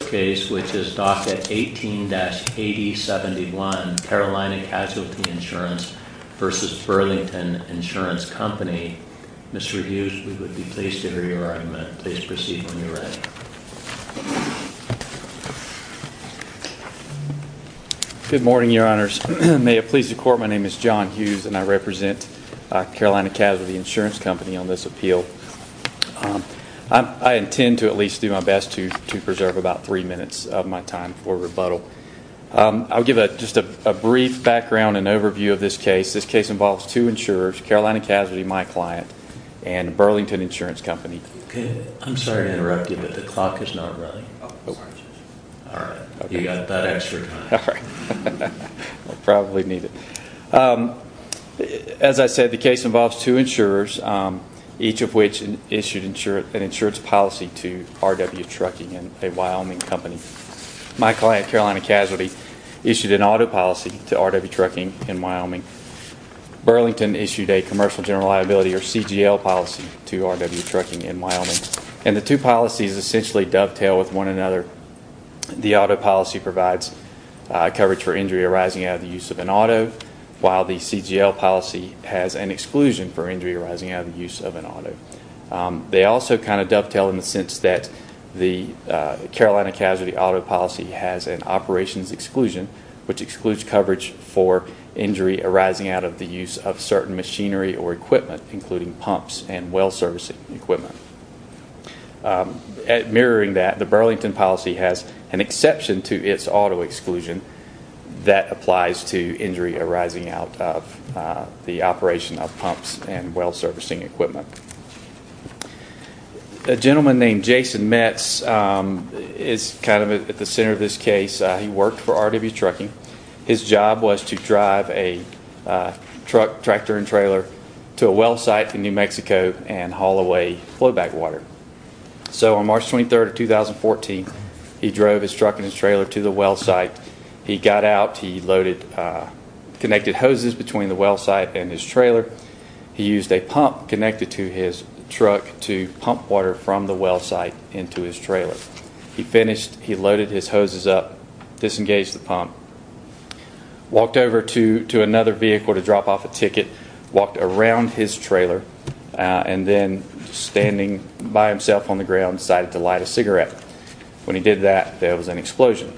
Mr. Hughes, we would be pleased to hear your argument. Please proceed when you're ready. Good morning, Your Honors. May it please the Court, my name is John Hughes and I represent Carolina Casualty Insurance Company on this appeal. I intend to at least do my best to give you three minutes of my time for rebuttal. I'll give just a brief background and overview of this case. This case involves two insurers, Carolina Casualty, my client, and Burlington Insurance Company. As I said, the case involves two insurers, each of which issued an insurance policy to RW Trucking, a Wyoming company. My client, Carolina Casualty, issued an auto policy to RW Trucking in Wyoming. Burlington issued a commercial general liability or CGL policy to RW Trucking in Wyoming. And the two policies essentially dovetail with one another. The auto policy provides coverage for injury arising out of the use of an auto, while the CGL policy has an exclusion for injury arising out of the use of an auto. They also kind of dovetail in the sense that the Carolina Casualty auto policy has an operations exclusion, which excludes coverage for injury arising out of the use of certain machinery or equipment, including pumps and well servicing equipment. Mirroring that, the Burlington policy has an exception to its auto exclusion that applies to injury arising out of the A gentleman named Jason Metz is kind of at the center of this case. He worked for RW Trucking. His job was to drive a truck, tractor, and trailer to a well site in New Mexico and haul away flowback water. So on March 23rd of 2014, he drove his truck and his trailer to the well site. He got out. He loaded connected hoses between the well site and his trailer. He used a pump connected to his truck to pump water from the well site into his trailer. He finished. He loaded his hoses up, disengaged the pump, walked over to another vehicle to drop off a ticket, walked around his trailer, and then standing by himself on the ground decided to light a cigarette. When he did that, there was an explosion.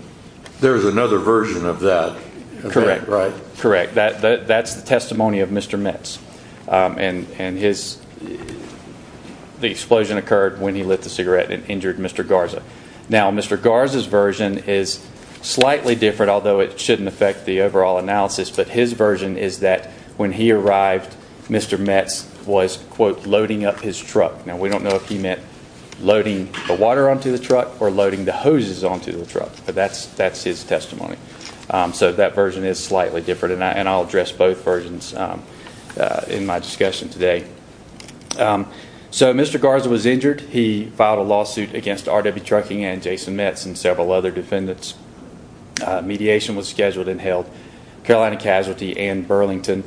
There was another version of that. Correct. That's the testimony of Mr. Metz. The explosion occurred when he lit the cigarette and injured Mr. Garza. Now, Mr. Garza's version is slightly different, although it shouldn't affect the overall analysis, but his version is that when he arrived, Mr. Metz was, quote, loading up his truck. Now, we don't know if he meant loading the water onto the truck or loading the hoses onto the truck, but that's his testimony. So that version is slightly different, and I'll address both versions in my discussion today. So Mr. Garza was injured. He filed a lawsuit against RW Trucking and Jason Metz and several other defendants. Mediation was scheduled and held. Carolina Casualty and Burlington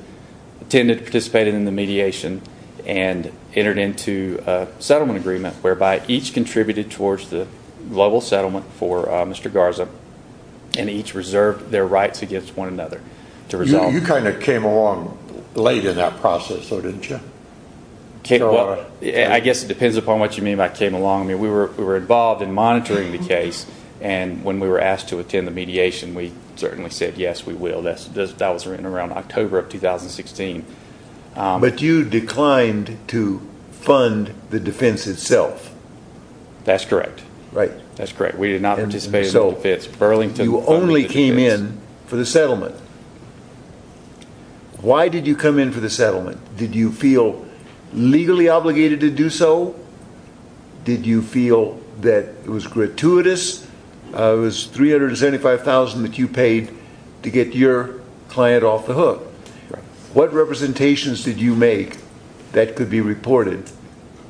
attended, participated in the mediation, and entered into a settlement agreement whereby each contributed towards the global settlement for Mr. Garza and each reserved their rights against one another to resolve. You kind of came along late in that process, though, didn't you? Well, I guess it depends upon what you mean by came along. I mean, we were involved in monitoring the case, and when we were asked to attend the mediation, we certainly said yes, we will. That was around October of 2016. But you declined to fund the defense itself? That's correct. Right. That's correct. We did not participate in the defense. Burlington funded the defense. You only came in for the settlement. Why did you come in for the settlement? Did you feel legally obligated to do so? Did you feel that it was gratuitous? It was $375,000 that you made that could be reported.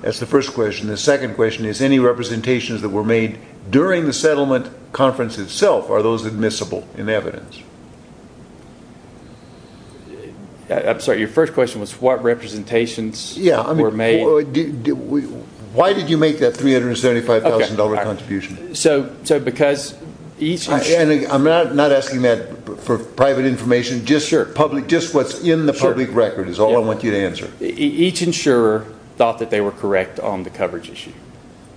That's the first question. The second question is, any representations that were made during the settlement conference itself, are those admissible in evidence? I'm sorry. Your first question was what representations were made? Yeah. Why did you make that $375,000 contribution? So because each... I'm not asking that for private information. Just what's in the public record is all I want you to answer. Each insurer thought that they were correct on the coverage issue.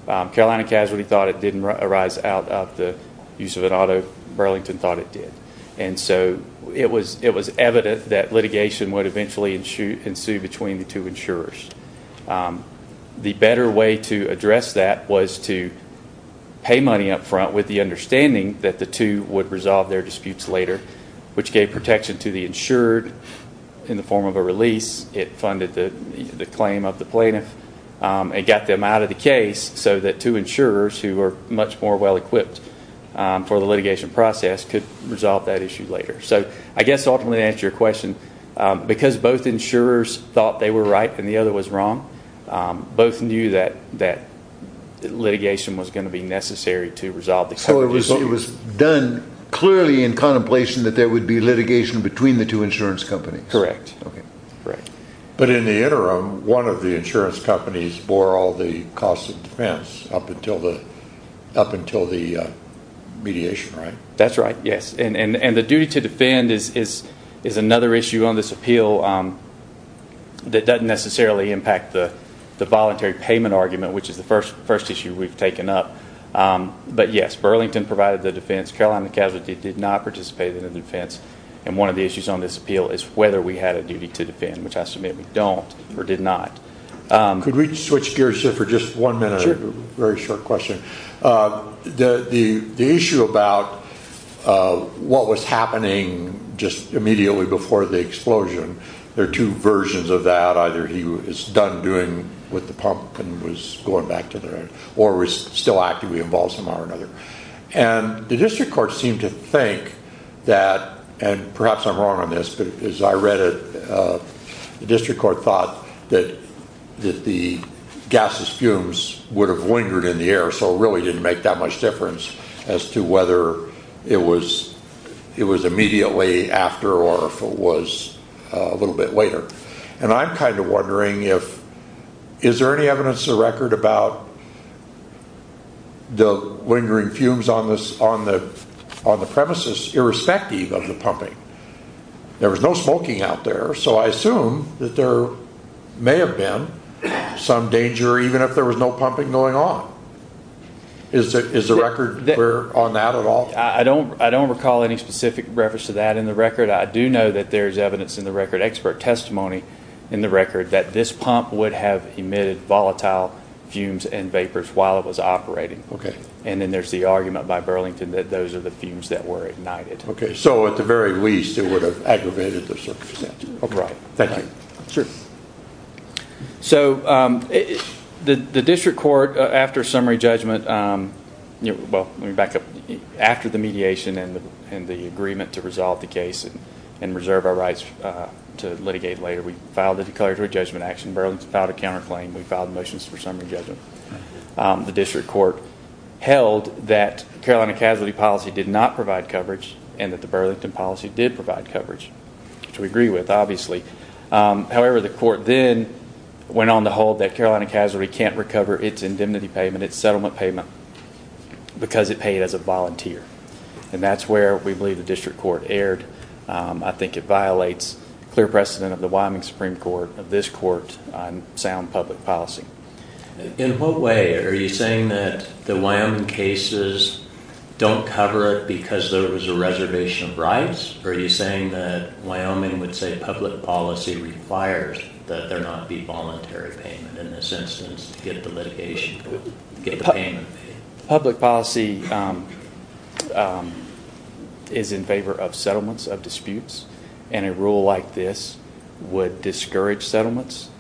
Carolina Casualty thought it didn't arise out of the use of an auto. Burlington thought it did. And so it was evident that litigation would eventually ensue between the two insurers. The better way to address that was to pay money up front with the understanding that the two would resolve their disputes later, which gave protection to the insured in the form of a release. It funded the claim of the plaintiff and got them out of the case so that two insurers who were much more well-equipped for the litigation process could resolve that issue later. So I guess ultimately to answer your question, because both insurers thought they were right and the other was wrong, both knew that litigation was going to be necessary to resolve the case. So it was done clearly in contemplation that there would be litigation between the two insurance companies. Correct. But in the interim, one of the insurance companies bore all the costs of defense up until the mediation, right? That's right, yes. And the duty to defend is another issue on this appeal that doesn't necessarily impact the voluntary payment argument, which is the first issue we've taken up. But yes, Burlington provided the defense. Carolina Casualty did not participate in the defense. And one of the issues on this appeal is whether we had a duty to defend, which I submit we don't or did not. Could we switch gears here for just one minute? Sure. Very short question. The issue about what was happening just immediately before the explosion, there are two versions of that. Either he was done doing with the pump and was going back to their or was still actively involved somehow or another. And the district court seemed to think that, and perhaps I'm wrong on this, but as I read it, the district court thought that the gaseous fumes would have lingered in the air, so it really didn't make that much difference as to whether it was immediately after or if it was a little bit later. And I'm kind of wondering, is there any evidence in the record about the lingering fumes on the premises irrespective of the pumping? There was no smoking out there, so I assume that there may have been some danger even if there was no pumping going on. Is the record clear on that at all? I don't recall any specific reference to that in the record. I do know that there is evidence in the record, expert testimony in the record, that this pump would have emitted volatile fumes and vapors while it was operating. And then there's the argument by Burlington that those are the fumes that were ignited. So at the very least it would have aggravated the circumstance. Right. Thank you. Sure. So the district court, after summary judgment, well let me back up, after the mediation and the agreement to resolve the case and reserve our rights to litigate later, we filed a declaratory judgment action. Burlington filed a counterclaim. We filed motions for summary judgment. The district court held that Carolina Casualty policy did not provide coverage and that the Burlington policy did provide coverage, which we agree with, obviously. However, the court then went on to hold that Carolina Casualty can't recover its indemnity payment, its settlement payment, because it paid as a volunteer. And that's where we believe the district court erred. I think it violates clear precedent of the Wyoming Supreme Court, of this court, on sound public policy. In what way? Are you saying that the Wyoming cases don't cover it because there was a reservation of rights? Or are you saying that Wyoming would say public policy requires that there not be voluntary payment in this instance to get the litigation, to get the payment? Public policy is in favor of settlements, of disputes. And a rule like this would discourage settlements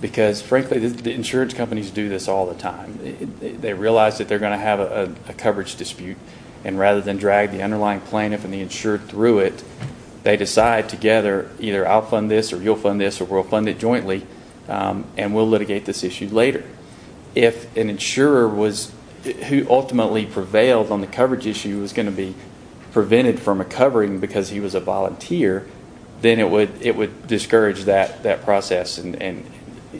because, frankly, the insurance companies do this all the time. They realize that they're going to have a coverage dispute, and rather than drag the underlying plaintiff and the insured through it, they decide together either I'll fund this or you'll fund this or we'll fund it jointly and we'll litigate this issue later. If an insurer who ultimately prevailed on the coverage issue was going to be prevented from recovering because he was a volunteer, then it would discourage that process and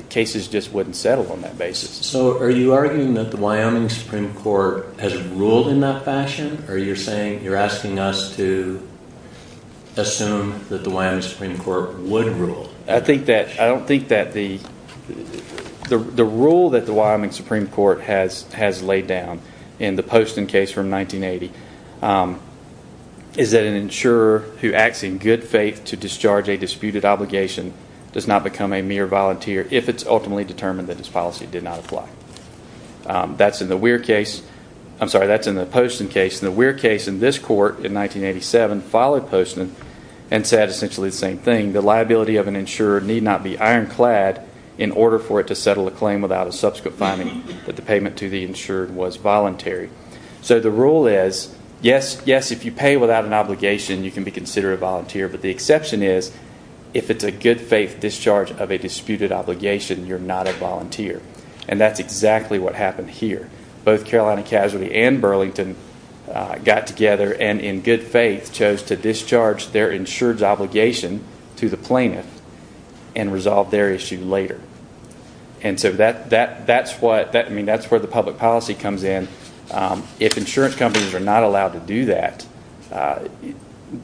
cases just wouldn't settle on that basis. So are you arguing that the Wyoming Supreme Court has ruled in that fashion, or you're asking us to assume that the Wyoming Supreme Court would rule? I don't think that the rule that the Wyoming Supreme Court has laid down in the Poston case from 1980 is that an insurer who acts in good faith to discharge a disputed obligation does not become a mere volunteer if it's ultimately determined that his policy did not apply. That's in the Poston case. The Weir case in this court in 1987 followed Poston and said essentially the same thing. The liability of an insurer need not be ironclad in order for it to settle a claim without a subsequent finding that the payment to the insured was voluntary. So the rule is yes, if you pay without an obligation, you can be considered a volunteer, but the exception is if it's a good faith discharge of a disputed obligation, you're not a volunteer, and that's exactly what happened here. Both Carolina Casualty and Burlington got together and in good faith chose to discharge their insured's obligation to the plaintiff and resolve their issue later. And so that's where the public policy comes in. If insurance companies are not allowed to do that,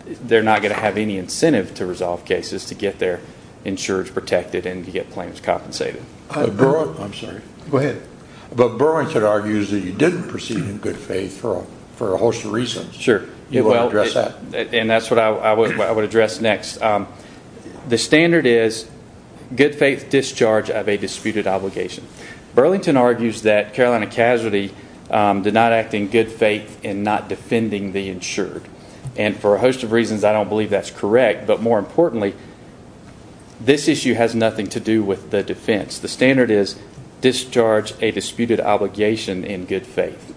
they're not going to have any incentive to resolve cases to get their insured's protected and to get plaintiffs compensated. Go ahead. But Burlington argues that you didn't proceed in good faith for a host of reasons. Sure. You want to address that? And that's what I would address next. The standard is good faith discharge of a disputed obligation. Burlington argues that Carolina Casualty did not act in good faith in not defending the insured, and for a host of reasons I don't believe that's correct, but more importantly, this issue has nothing to do with the defense. The standard is discharge a disputed obligation in good faith.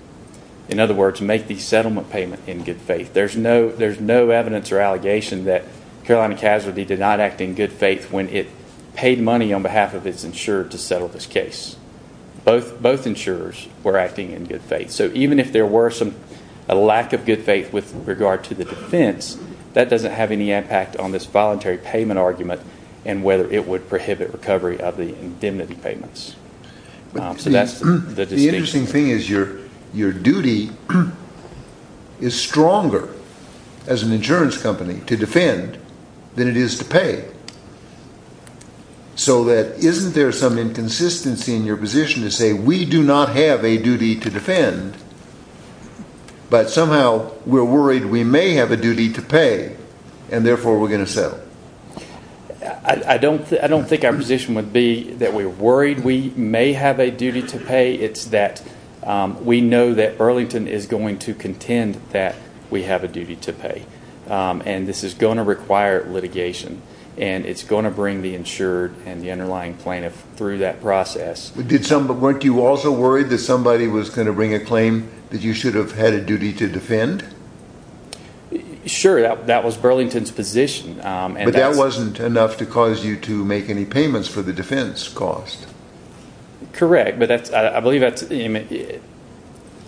In other words, make the settlement payment in good faith. There's no evidence or allegation that Carolina Casualty did not act in good faith when it paid money on behalf of its insured to settle this case. Both insurers were acting in good faith. So even if there were a lack of good faith with regard to the defense, that doesn't have any impact on this voluntary payment argument and whether it would prohibit recovery of the indemnity payments. The interesting thing is your duty is stronger as an insurance company to defend than it is to pay. So isn't there some inconsistency in your position to say we do not have a duty to defend, but somehow we're worried we may have a duty to pay, and therefore we're going to settle? I don't think our position would be that we're worried we may have a duty to pay. It's that we know that Burlington is going to contend that we have a duty to pay, and this is going to require litigation, and it's going to bring the insured and the underlying plaintiff through that process. But weren't you also worried that somebody was going to bring a claim that you should have had a duty to defend? Sure. That was Burlington's position. But that wasn't enough to cause you to make any payments for the defense cost. Correct, but I believe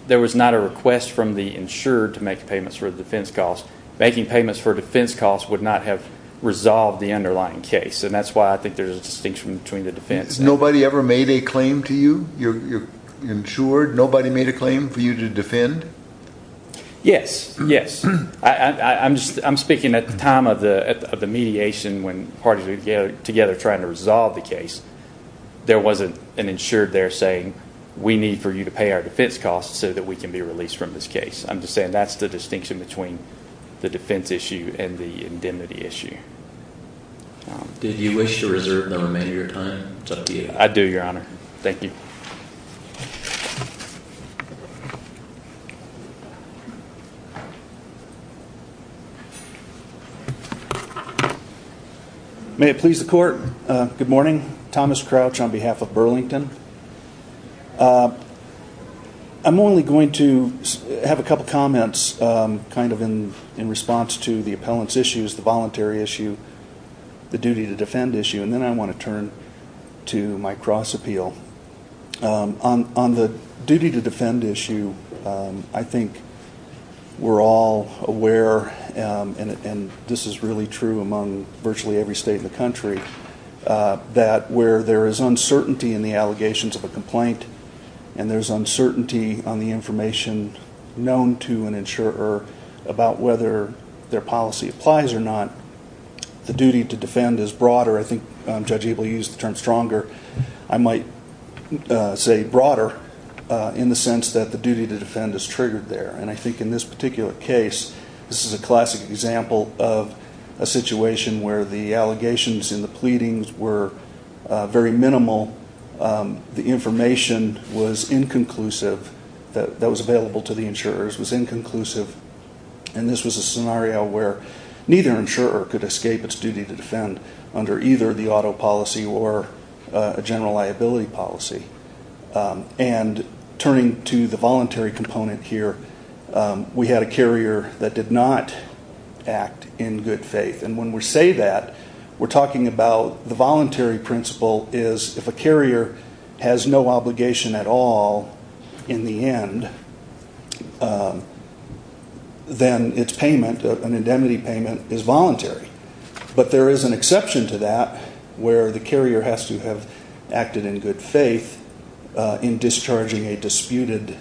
there was not a request from the insured to make payments for the defense cost. Making payments for defense costs would not have resolved the underlying case, and that's why I think there's a distinction between the defense and the insurance. Nobody ever made a claim to you? You're insured. Nobody made a claim for you to defend? Yes, yes. I'm speaking at the time of the mediation when parties were together trying to resolve the case. There wasn't an insured there saying, we need for you to pay our defense costs so that we can be released from this case. I'm just saying that's the distinction between the defense issue and the indemnity issue. Did you wish to reserve the remainder of your time? It's up to you. I do, Your Honor. Thank you. Thank you. May it please the Court, good morning. Thomas Crouch on behalf of Burlington. I'm only going to have a couple of comments kind of in response to the appellant's issues, the voluntary issue, the duty to defend issue, and then I want to turn to my cross appeal. On the duty to defend issue, I think we're all aware, and this is really true among virtually every state in the country, that where there is uncertainty in the allegations of a complaint and there's uncertainty on the information known to an insurer about whether their policy applies or not, the duty to defend is broader. I think Judge Abel used the term stronger. I might say broader in the sense that the duty to defend is triggered there, and I think in this particular case, this is a classic example of a situation where the allegations in the pleadings were very minimal. The information that was available to the insurers was inconclusive, and this was a scenario where neither insurer could escape its duty to defend under either the auto policy or a general liability policy. And turning to the voluntary component here, we had a carrier that did not act in good faith, and when we say that, we're talking about the voluntary principle is if a carrier has no obligation at all in the end, then its payment, an indemnity payment, is voluntary. But there is an exception to that where the carrier has to have acted in good faith in discharging a disputed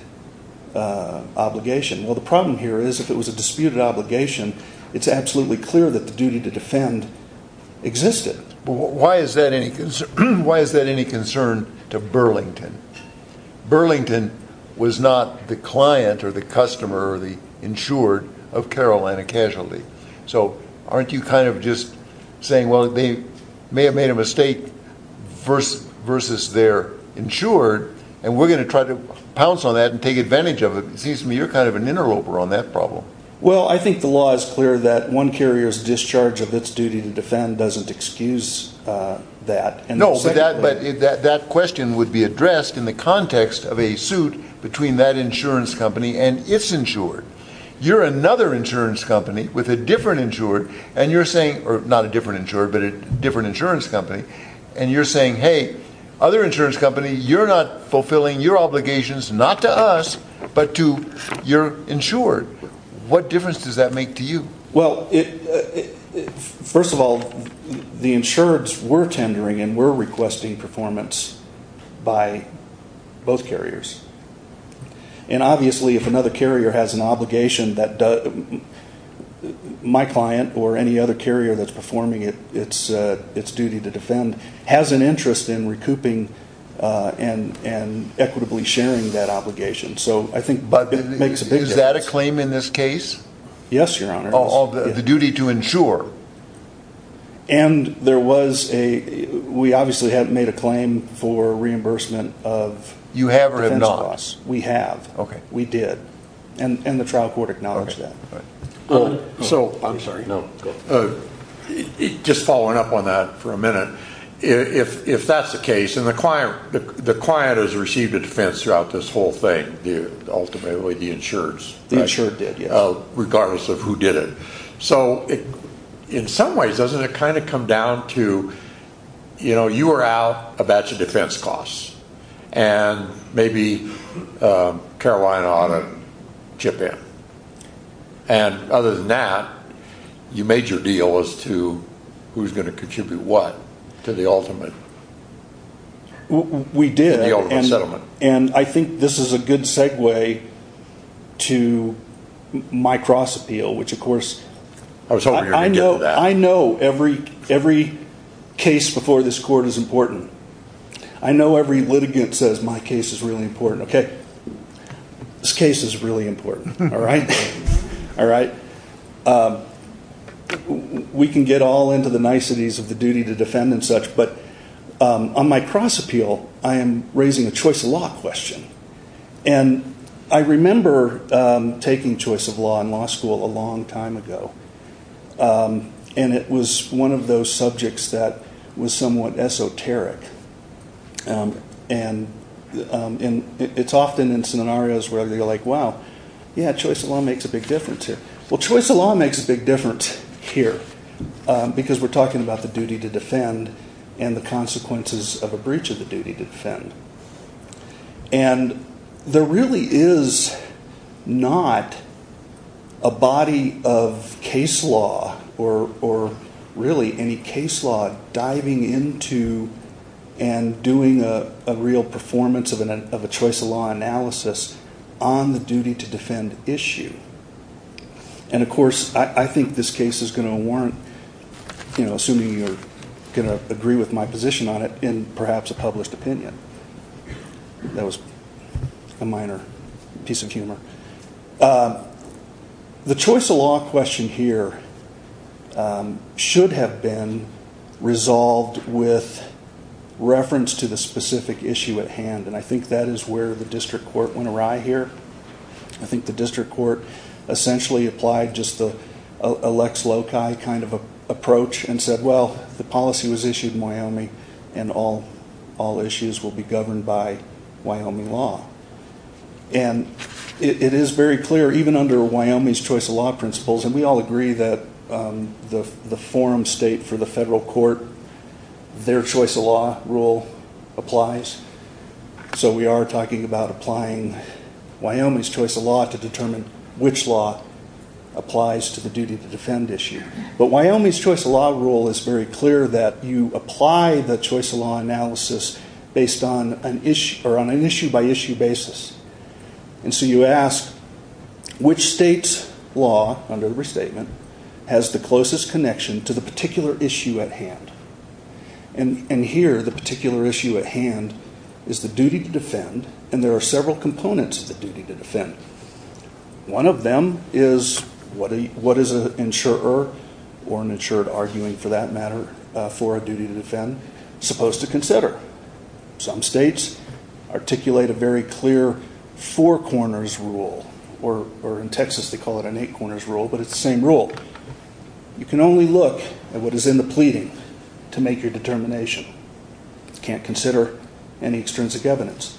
obligation. Well, the problem here is if it was a disputed obligation, it's absolutely clear that the duty to defend existed. But why is that any concern to Burlington? Burlington was not the client or the customer or the insured of Carolina Casualty. So aren't you kind of just saying, well, they may have made a mistake versus their insured, and we're going to try to pounce on that and take advantage of it? It seems to me you're kind of an interloper on that problem. Well, I think the law is clear that one carrier's discharge of its duty to defend doesn't excuse that. No, but that question would be addressed in the context of a suit between that insurance company and its insured. You're another insurance company with a different insured, and you're saying, or not a different insured, but a different insurance company, and you're saying, hey, other insurance company, you're not fulfilling your obligations not to us, but to your insured. What difference does that make to you? Well, first of all, the insureds were tendering and were requesting performance by both carriers. And obviously if another carrier has an obligation that my client or any other carrier that's performing its duty to defend has an interest in recouping and equitably sharing that obligation. So I think it makes a big difference. Is that a claim in this case? Yes, Your Honor. Oh, the duty to insure. And there was a, we obviously had made a claim for reimbursement of defense costs. You have or have not? We have. Okay. We did. And the trial court acknowledged that. Okay. Go ahead. I'm sorry. No, go ahead. Just following up on that for a minute. If that's the case, and the client has received a defense throughout this whole thing, ultimately the insureds. The insured did, yes. Regardless of who did it. So in some ways, doesn't it kind of come down to, you know, you were out a batch of defense costs. And maybe Carolina ought to chip in. And other than that, you made your deal as to who's going to contribute what. To the ultimate. To the ultimate settlement. And I think this is a good segue to my cross appeal, which, of course. I was hoping you were going to get to that. I know every case before this court is important. I know every litigant says my case is really important. Okay. This case is really important. All right. All right. We can get all into the niceties of the duty to defend and such. But on my cross appeal, I am raising a choice of law question. And I remember taking choice of law in law school a long time ago. And it was one of those subjects that was somewhat esoteric. And it's often in scenarios where they're like, wow, yeah, choice of law makes a big difference here. Well, choice of law makes a big difference here. Because we're talking about the duty to defend and the consequences of a breach of the duty to defend. And there really is not a body of case law or really any case law diving into and doing a real performance of a choice of law analysis on the duty to defend issue. And, of course, I think this case is going to warrant, you know, assuming you're going to agree with my position on it in perhaps a published opinion. The choice of law question here should have been resolved with reference to the specific issue at hand. And I think that is where the district court went awry here. I think the district court essentially applied just the Alex Loci kind of approach and said, well, the policy was issued in Wyoming and all issues will be governed by Wyoming law. And it is very clear, even under Wyoming's choice of law principles, and we all agree that the forum state for the federal court, their choice of law rule applies. So we are talking about applying Wyoming's choice of law to determine which law applies to the duty to defend issue. But Wyoming's choice of law rule is very clear that you apply the choice of law analysis based on an issue by issue basis. And so you ask which state's law under restatement has the closest connection to the particular issue at hand. And here the particular issue at hand is the duty to defend, and there are several components of the duty to defend. One of them is what is an insurer or an insured arguing for that matter for a duty to defend supposed to consider. Some states articulate a very clear four corners rule, or in Texas they call it an eight corners rule, but it's the same rule. You can only look at what is in the pleading to make your determination. You can't consider any extrinsic evidence.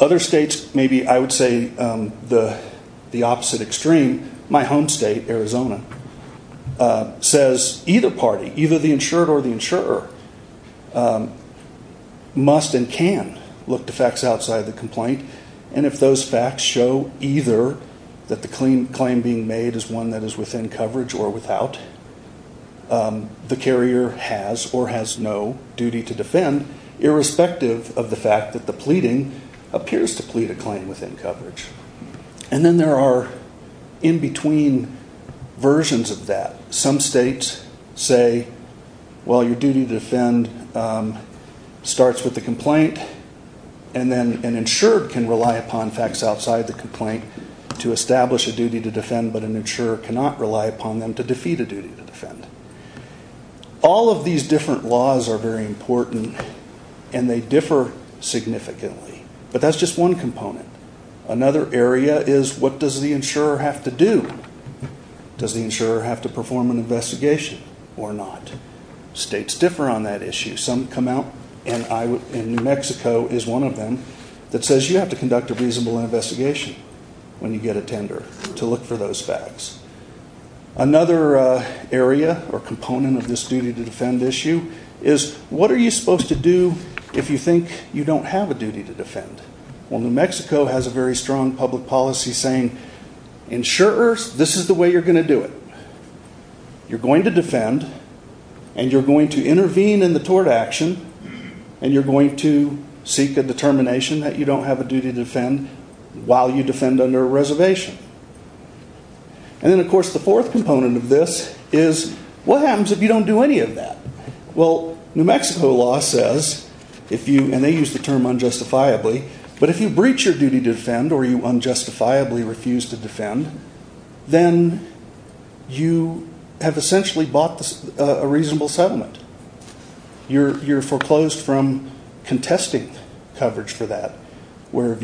Other states maybe I would say the opposite extreme. My home state, Arizona, says either party, either the insured or the insurer, must and can look to facts outside the complaint, and if those facts show either that the claim being made is one that is within coverage or without, the carrier has or has no duty to defend irrespective of the fact that the pleading appears to plead a claim within coverage. And then there are in between versions of that. Some states say, well, your duty to defend starts with the complaint, and then an insured can rely upon facts outside the complaint to establish a duty to defend, but an insurer cannot rely upon them to defeat a duty to defend. All of these different laws are very important, and they differ significantly, but that's just one component. Another area is what does the insurer have to do? Does the insurer have to perform an investigation or not? States differ on that issue. Some come out, and New Mexico is one of them, that says you have to conduct a reasonable investigation when you get a tender to look for those facts. Another area or component of this duty to defend issue is what are you supposed to do if you think you don't have a duty to defend? Well, New Mexico has a very strong public policy saying, insurers, this is the way you're going to do it. You're going to defend, and you're going to intervene in the tort action, and you're going to seek a determination that you don't have a duty to defend while you defend under a reservation. And then, of course, the fourth component of this is what happens if you don't do any of that? Well, New Mexico law says if you, and they use the term unjustifiably, but if you breach your duty to defend or you unjustifiably refuse to defend, then you have essentially bought a reasonable settlement. You're foreclosed from contesting coverage for that where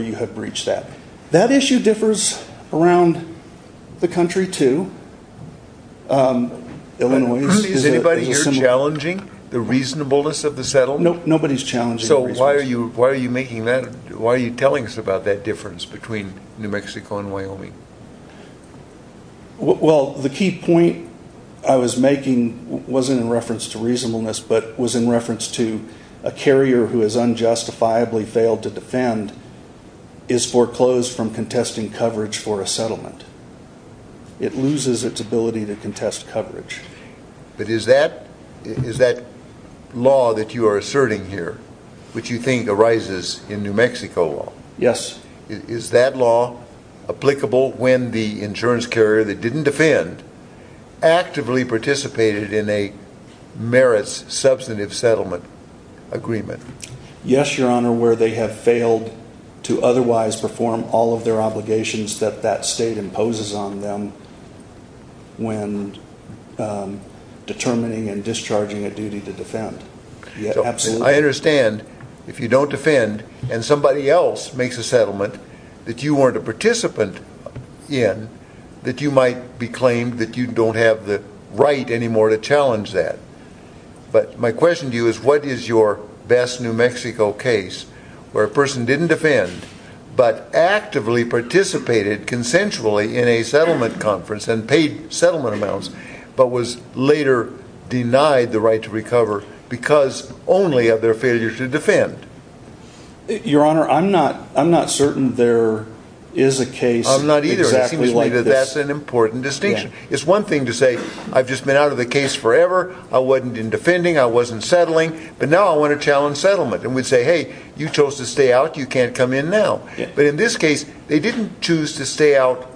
you have breached that. That issue differs around the country, too. Is anybody here challenging the reasonableness of the settlement? Nope, nobody's challenging the reasonableness. So why are you telling us about that difference between New Mexico and Wyoming? Well, the key point I was making wasn't in reference to reasonableness, but was in reference to a carrier who has unjustifiably failed to defend is foreclosed from contesting coverage for a settlement. It loses its ability to contest coverage. But is that law that you are asserting here, which you think arises in New Mexico law? Yes. Is that law applicable when the insurance carrier that didn't defend actively participated in a merits substantive settlement agreement? Yes, Your Honor, where they have failed to otherwise perform all of their obligations that that state imposes on them when determining and discharging a duty to defend. Absolutely. I understand if you don't defend and somebody else makes a settlement that you weren't a participant in, that you might be claimed that you don't have the right anymore to challenge that. But my question to you is what is your best New Mexico case where a person didn't defend but actively participated consensually in a settlement conference and paid settlement amounts but was later denied the right to recover because only of their failure to defend? Your Honor, I'm not certain there is a case exactly like this. I'm not either. It seems to me that that's an important distinction. It's one thing to say, I've just been out of the case forever, I wasn't in defending, I wasn't settling, but now I want to challenge settlement. And we'd say, hey, you chose to stay out, you can't come in now. But in this case, they didn't choose to stay out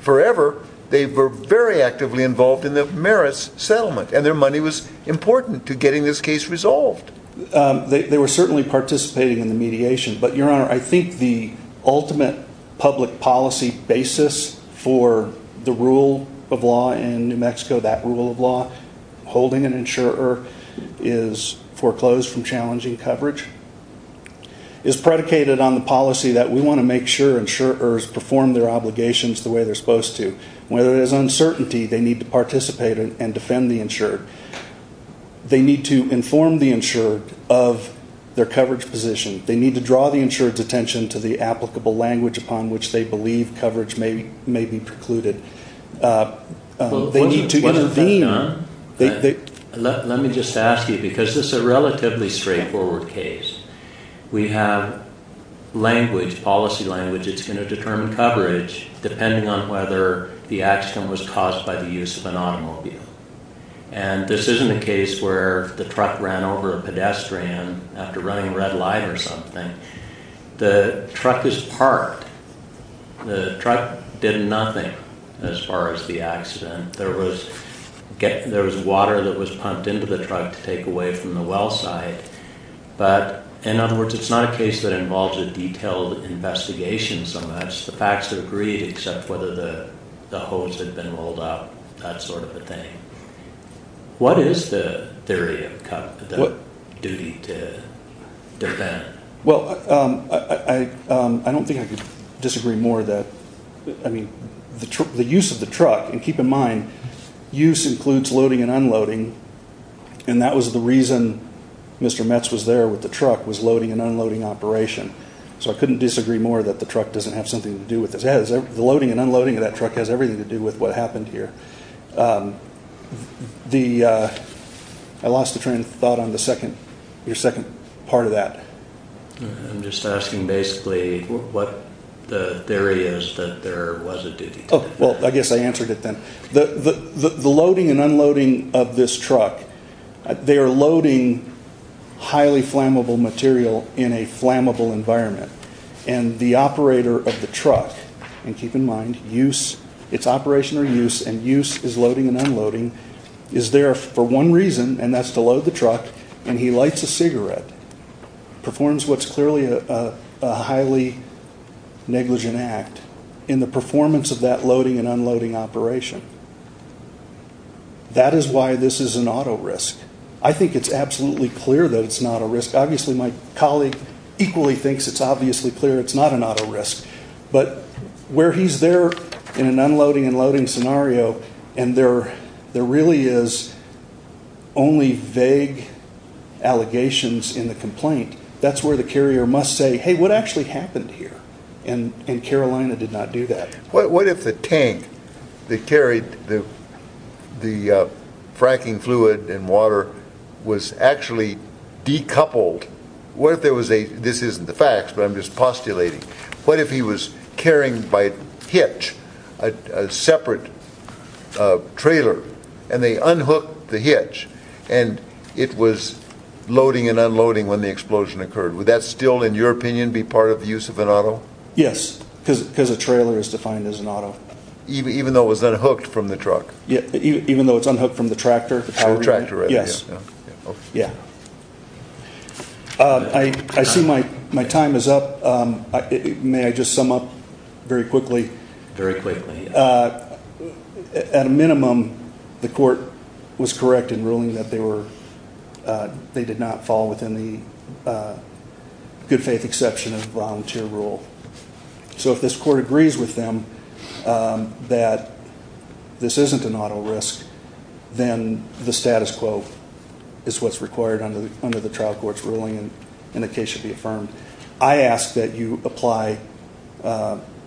forever. They were very actively involved in the Maris settlement and their money was important to getting this case resolved. They were certainly participating in the mediation. But, Your Honor, I think the ultimate public policy basis for the rule of law in New Mexico, that rule of law, holding an insurer is foreclosed from challenging coverage, is predicated on the policy that we want to make sure insurers perform their obligations the way they're supposed to. Whether there's uncertainty, they need to participate and defend the insured. They need to inform the insured of their coverage position. They need to draw the insured's attention to the applicable language upon which they believe coverage may be precluded. Let me just ask you, because this is a relatively straightforward case. We have language, policy language that's going to determine coverage depending on whether the accident was caused by the use of an automobile. And this isn't a case where the truck ran over a pedestrian after running a red light or something. The truck is parked. The truck did nothing as far as the accident. There was water that was pumped into the truck to take away from the well site. But, in other words, it's not a case that involves a detailed investigation so much. The facts are agreed except whether the hose had been rolled up, that sort of a thing. What is the theory of the duty to defend? Well, I don't think I could disagree more that, I mean, the use of the truck, and keep in mind, use includes loading and unloading, and that was the reason Mr. Metz was there with the truck, was loading and unloading operation. So I couldn't disagree more that the truck doesn't have something to do with this. The loading and unloading of that truck has everything to do with what happened here. I lost the train of thought on your second part of that. I'm just asking basically what the theory is that there was a duty to defend. Well, I guess I answered it then. The loading and unloading of this truck, they are loading highly flammable material in a flammable environment, and the operator of the truck, and keep in mind, use, it's operation or use, and use is loading and unloading, is there for one reason, and that's to load the truck, and he lights a cigarette, performs what's clearly a highly negligent act in the performance of that loading and unloading operation. That is why this is an auto risk. I think it's absolutely clear that it's not a risk. Obviously, my colleague equally thinks it's obviously clear it's not an auto risk, but where he's there in an unloading and loading scenario, and there really is only vague allegations in the complaint, that's where the carrier must say, hey, what actually happened here, and Carolina did not do that. What if the tank that carried the fracking fluid and water was actually decoupled? What if there was a, this isn't the facts, but I'm just postulating, what if he was carrying by hitch a separate trailer, and they unhooked the hitch, and it was loading and unloading when the explosion occurred. Would that still, in your opinion, be part of the use of an auto? Yes, because a trailer is defined as an auto. Even though it was unhooked from the truck? Yeah, even though it's unhooked from the tractor. From the tractor, right. Yes. Okay. Yeah. I see my time is up. May I just sum up very quickly? Very quickly. At a minimum, the court was correct in ruling that they were, they did not fall within the good faith exception of volunteer rule. So if this court agrees with them that this isn't an auto risk, then the status quo is what's required under the trial court's ruling, and the case should be affirmed. I ask that you apply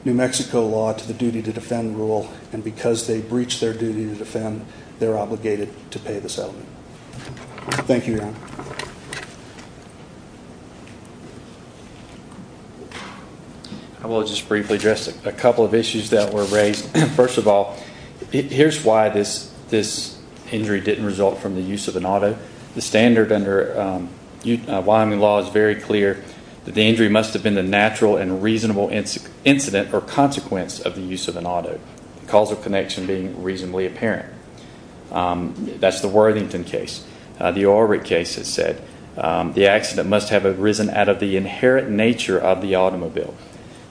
New Mexico law to the duty to defend rule, and because they breached their duty to defend, they're obligated to pay the settlement. Thank you, Your Honor. I will just briefly address a couple of issues that were raised. First of all, here's why this injury didn't result from the use of an auto. The standard under Wyoming law is very clear that the injury must have been the natural and reasonable incident or consequence of the use of an auto, the causal connection being reasonably apparent. That's the Worthington case. The Ulrich case has said the accident must have arisen out of the inherent nature of the automobile.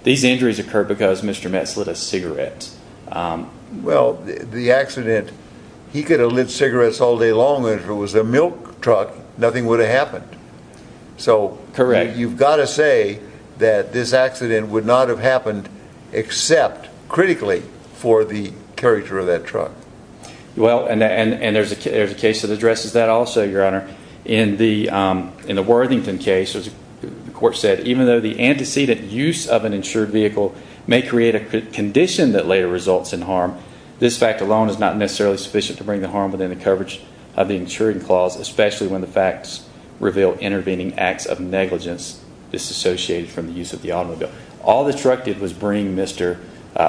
These injuries occurred because Mr. Metz lit a cigarette. Well, the accident, he could have lit cigarettes all day long and if it was a milk truck, nothing would have happened. Correct. So you've got to say that this accident would not have happened except critically for the character of that truck. Well, and there's a case that addresses that also, Your Honor. In the Worthington case, the court said, even though the antecedent use of an insured vehicle may create a condition that later results in harm, this fact alone is not necessarily sufficient to bring the harm within the insuring clause, especially when the facts reveal intervening acts of negligence disassociated from the use of the automobile. All the truck did was bring Mr.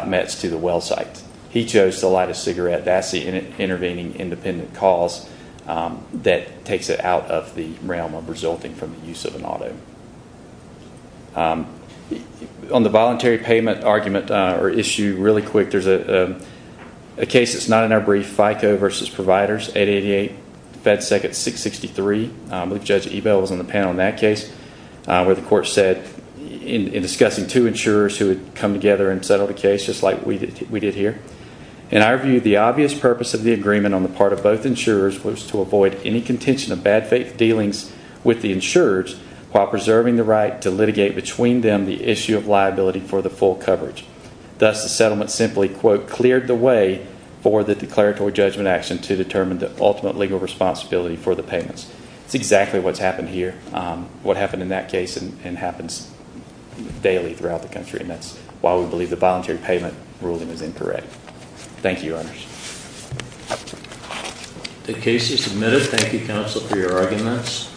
Metz to the well site. He chose to light a cigarette. That's the intervening independent cause that takes it out of the realm of resulting from the use of an auto. On the voluntary payment argument or issue, really quick, there's a case that's not in our brief, FICO versus providers, 888, FedSec at 663. I believe Judge Ebel was on the panel in that case, where the court said in discussing two insurers who had come together and settled a case just like we did here. In our view, the obvious purpose of the agreement on the part of both insurers was to avoid any contention of bad faith dealings with the insurers while preserving the right to litigate between them the issue of liability for the full coverage. Thus, the settlement simply, quote, cleared the way for the declaratory judgment action to determine the ultimate legal responsibility for the payments. It's exactly what's happened here, what happened in that case, and happens daily throughout the country, and that's why we believe the voluntary payment ruling is incorrect. Thank you, Your Honors. The case is submitted. Thank you, Counsel, for your arguments.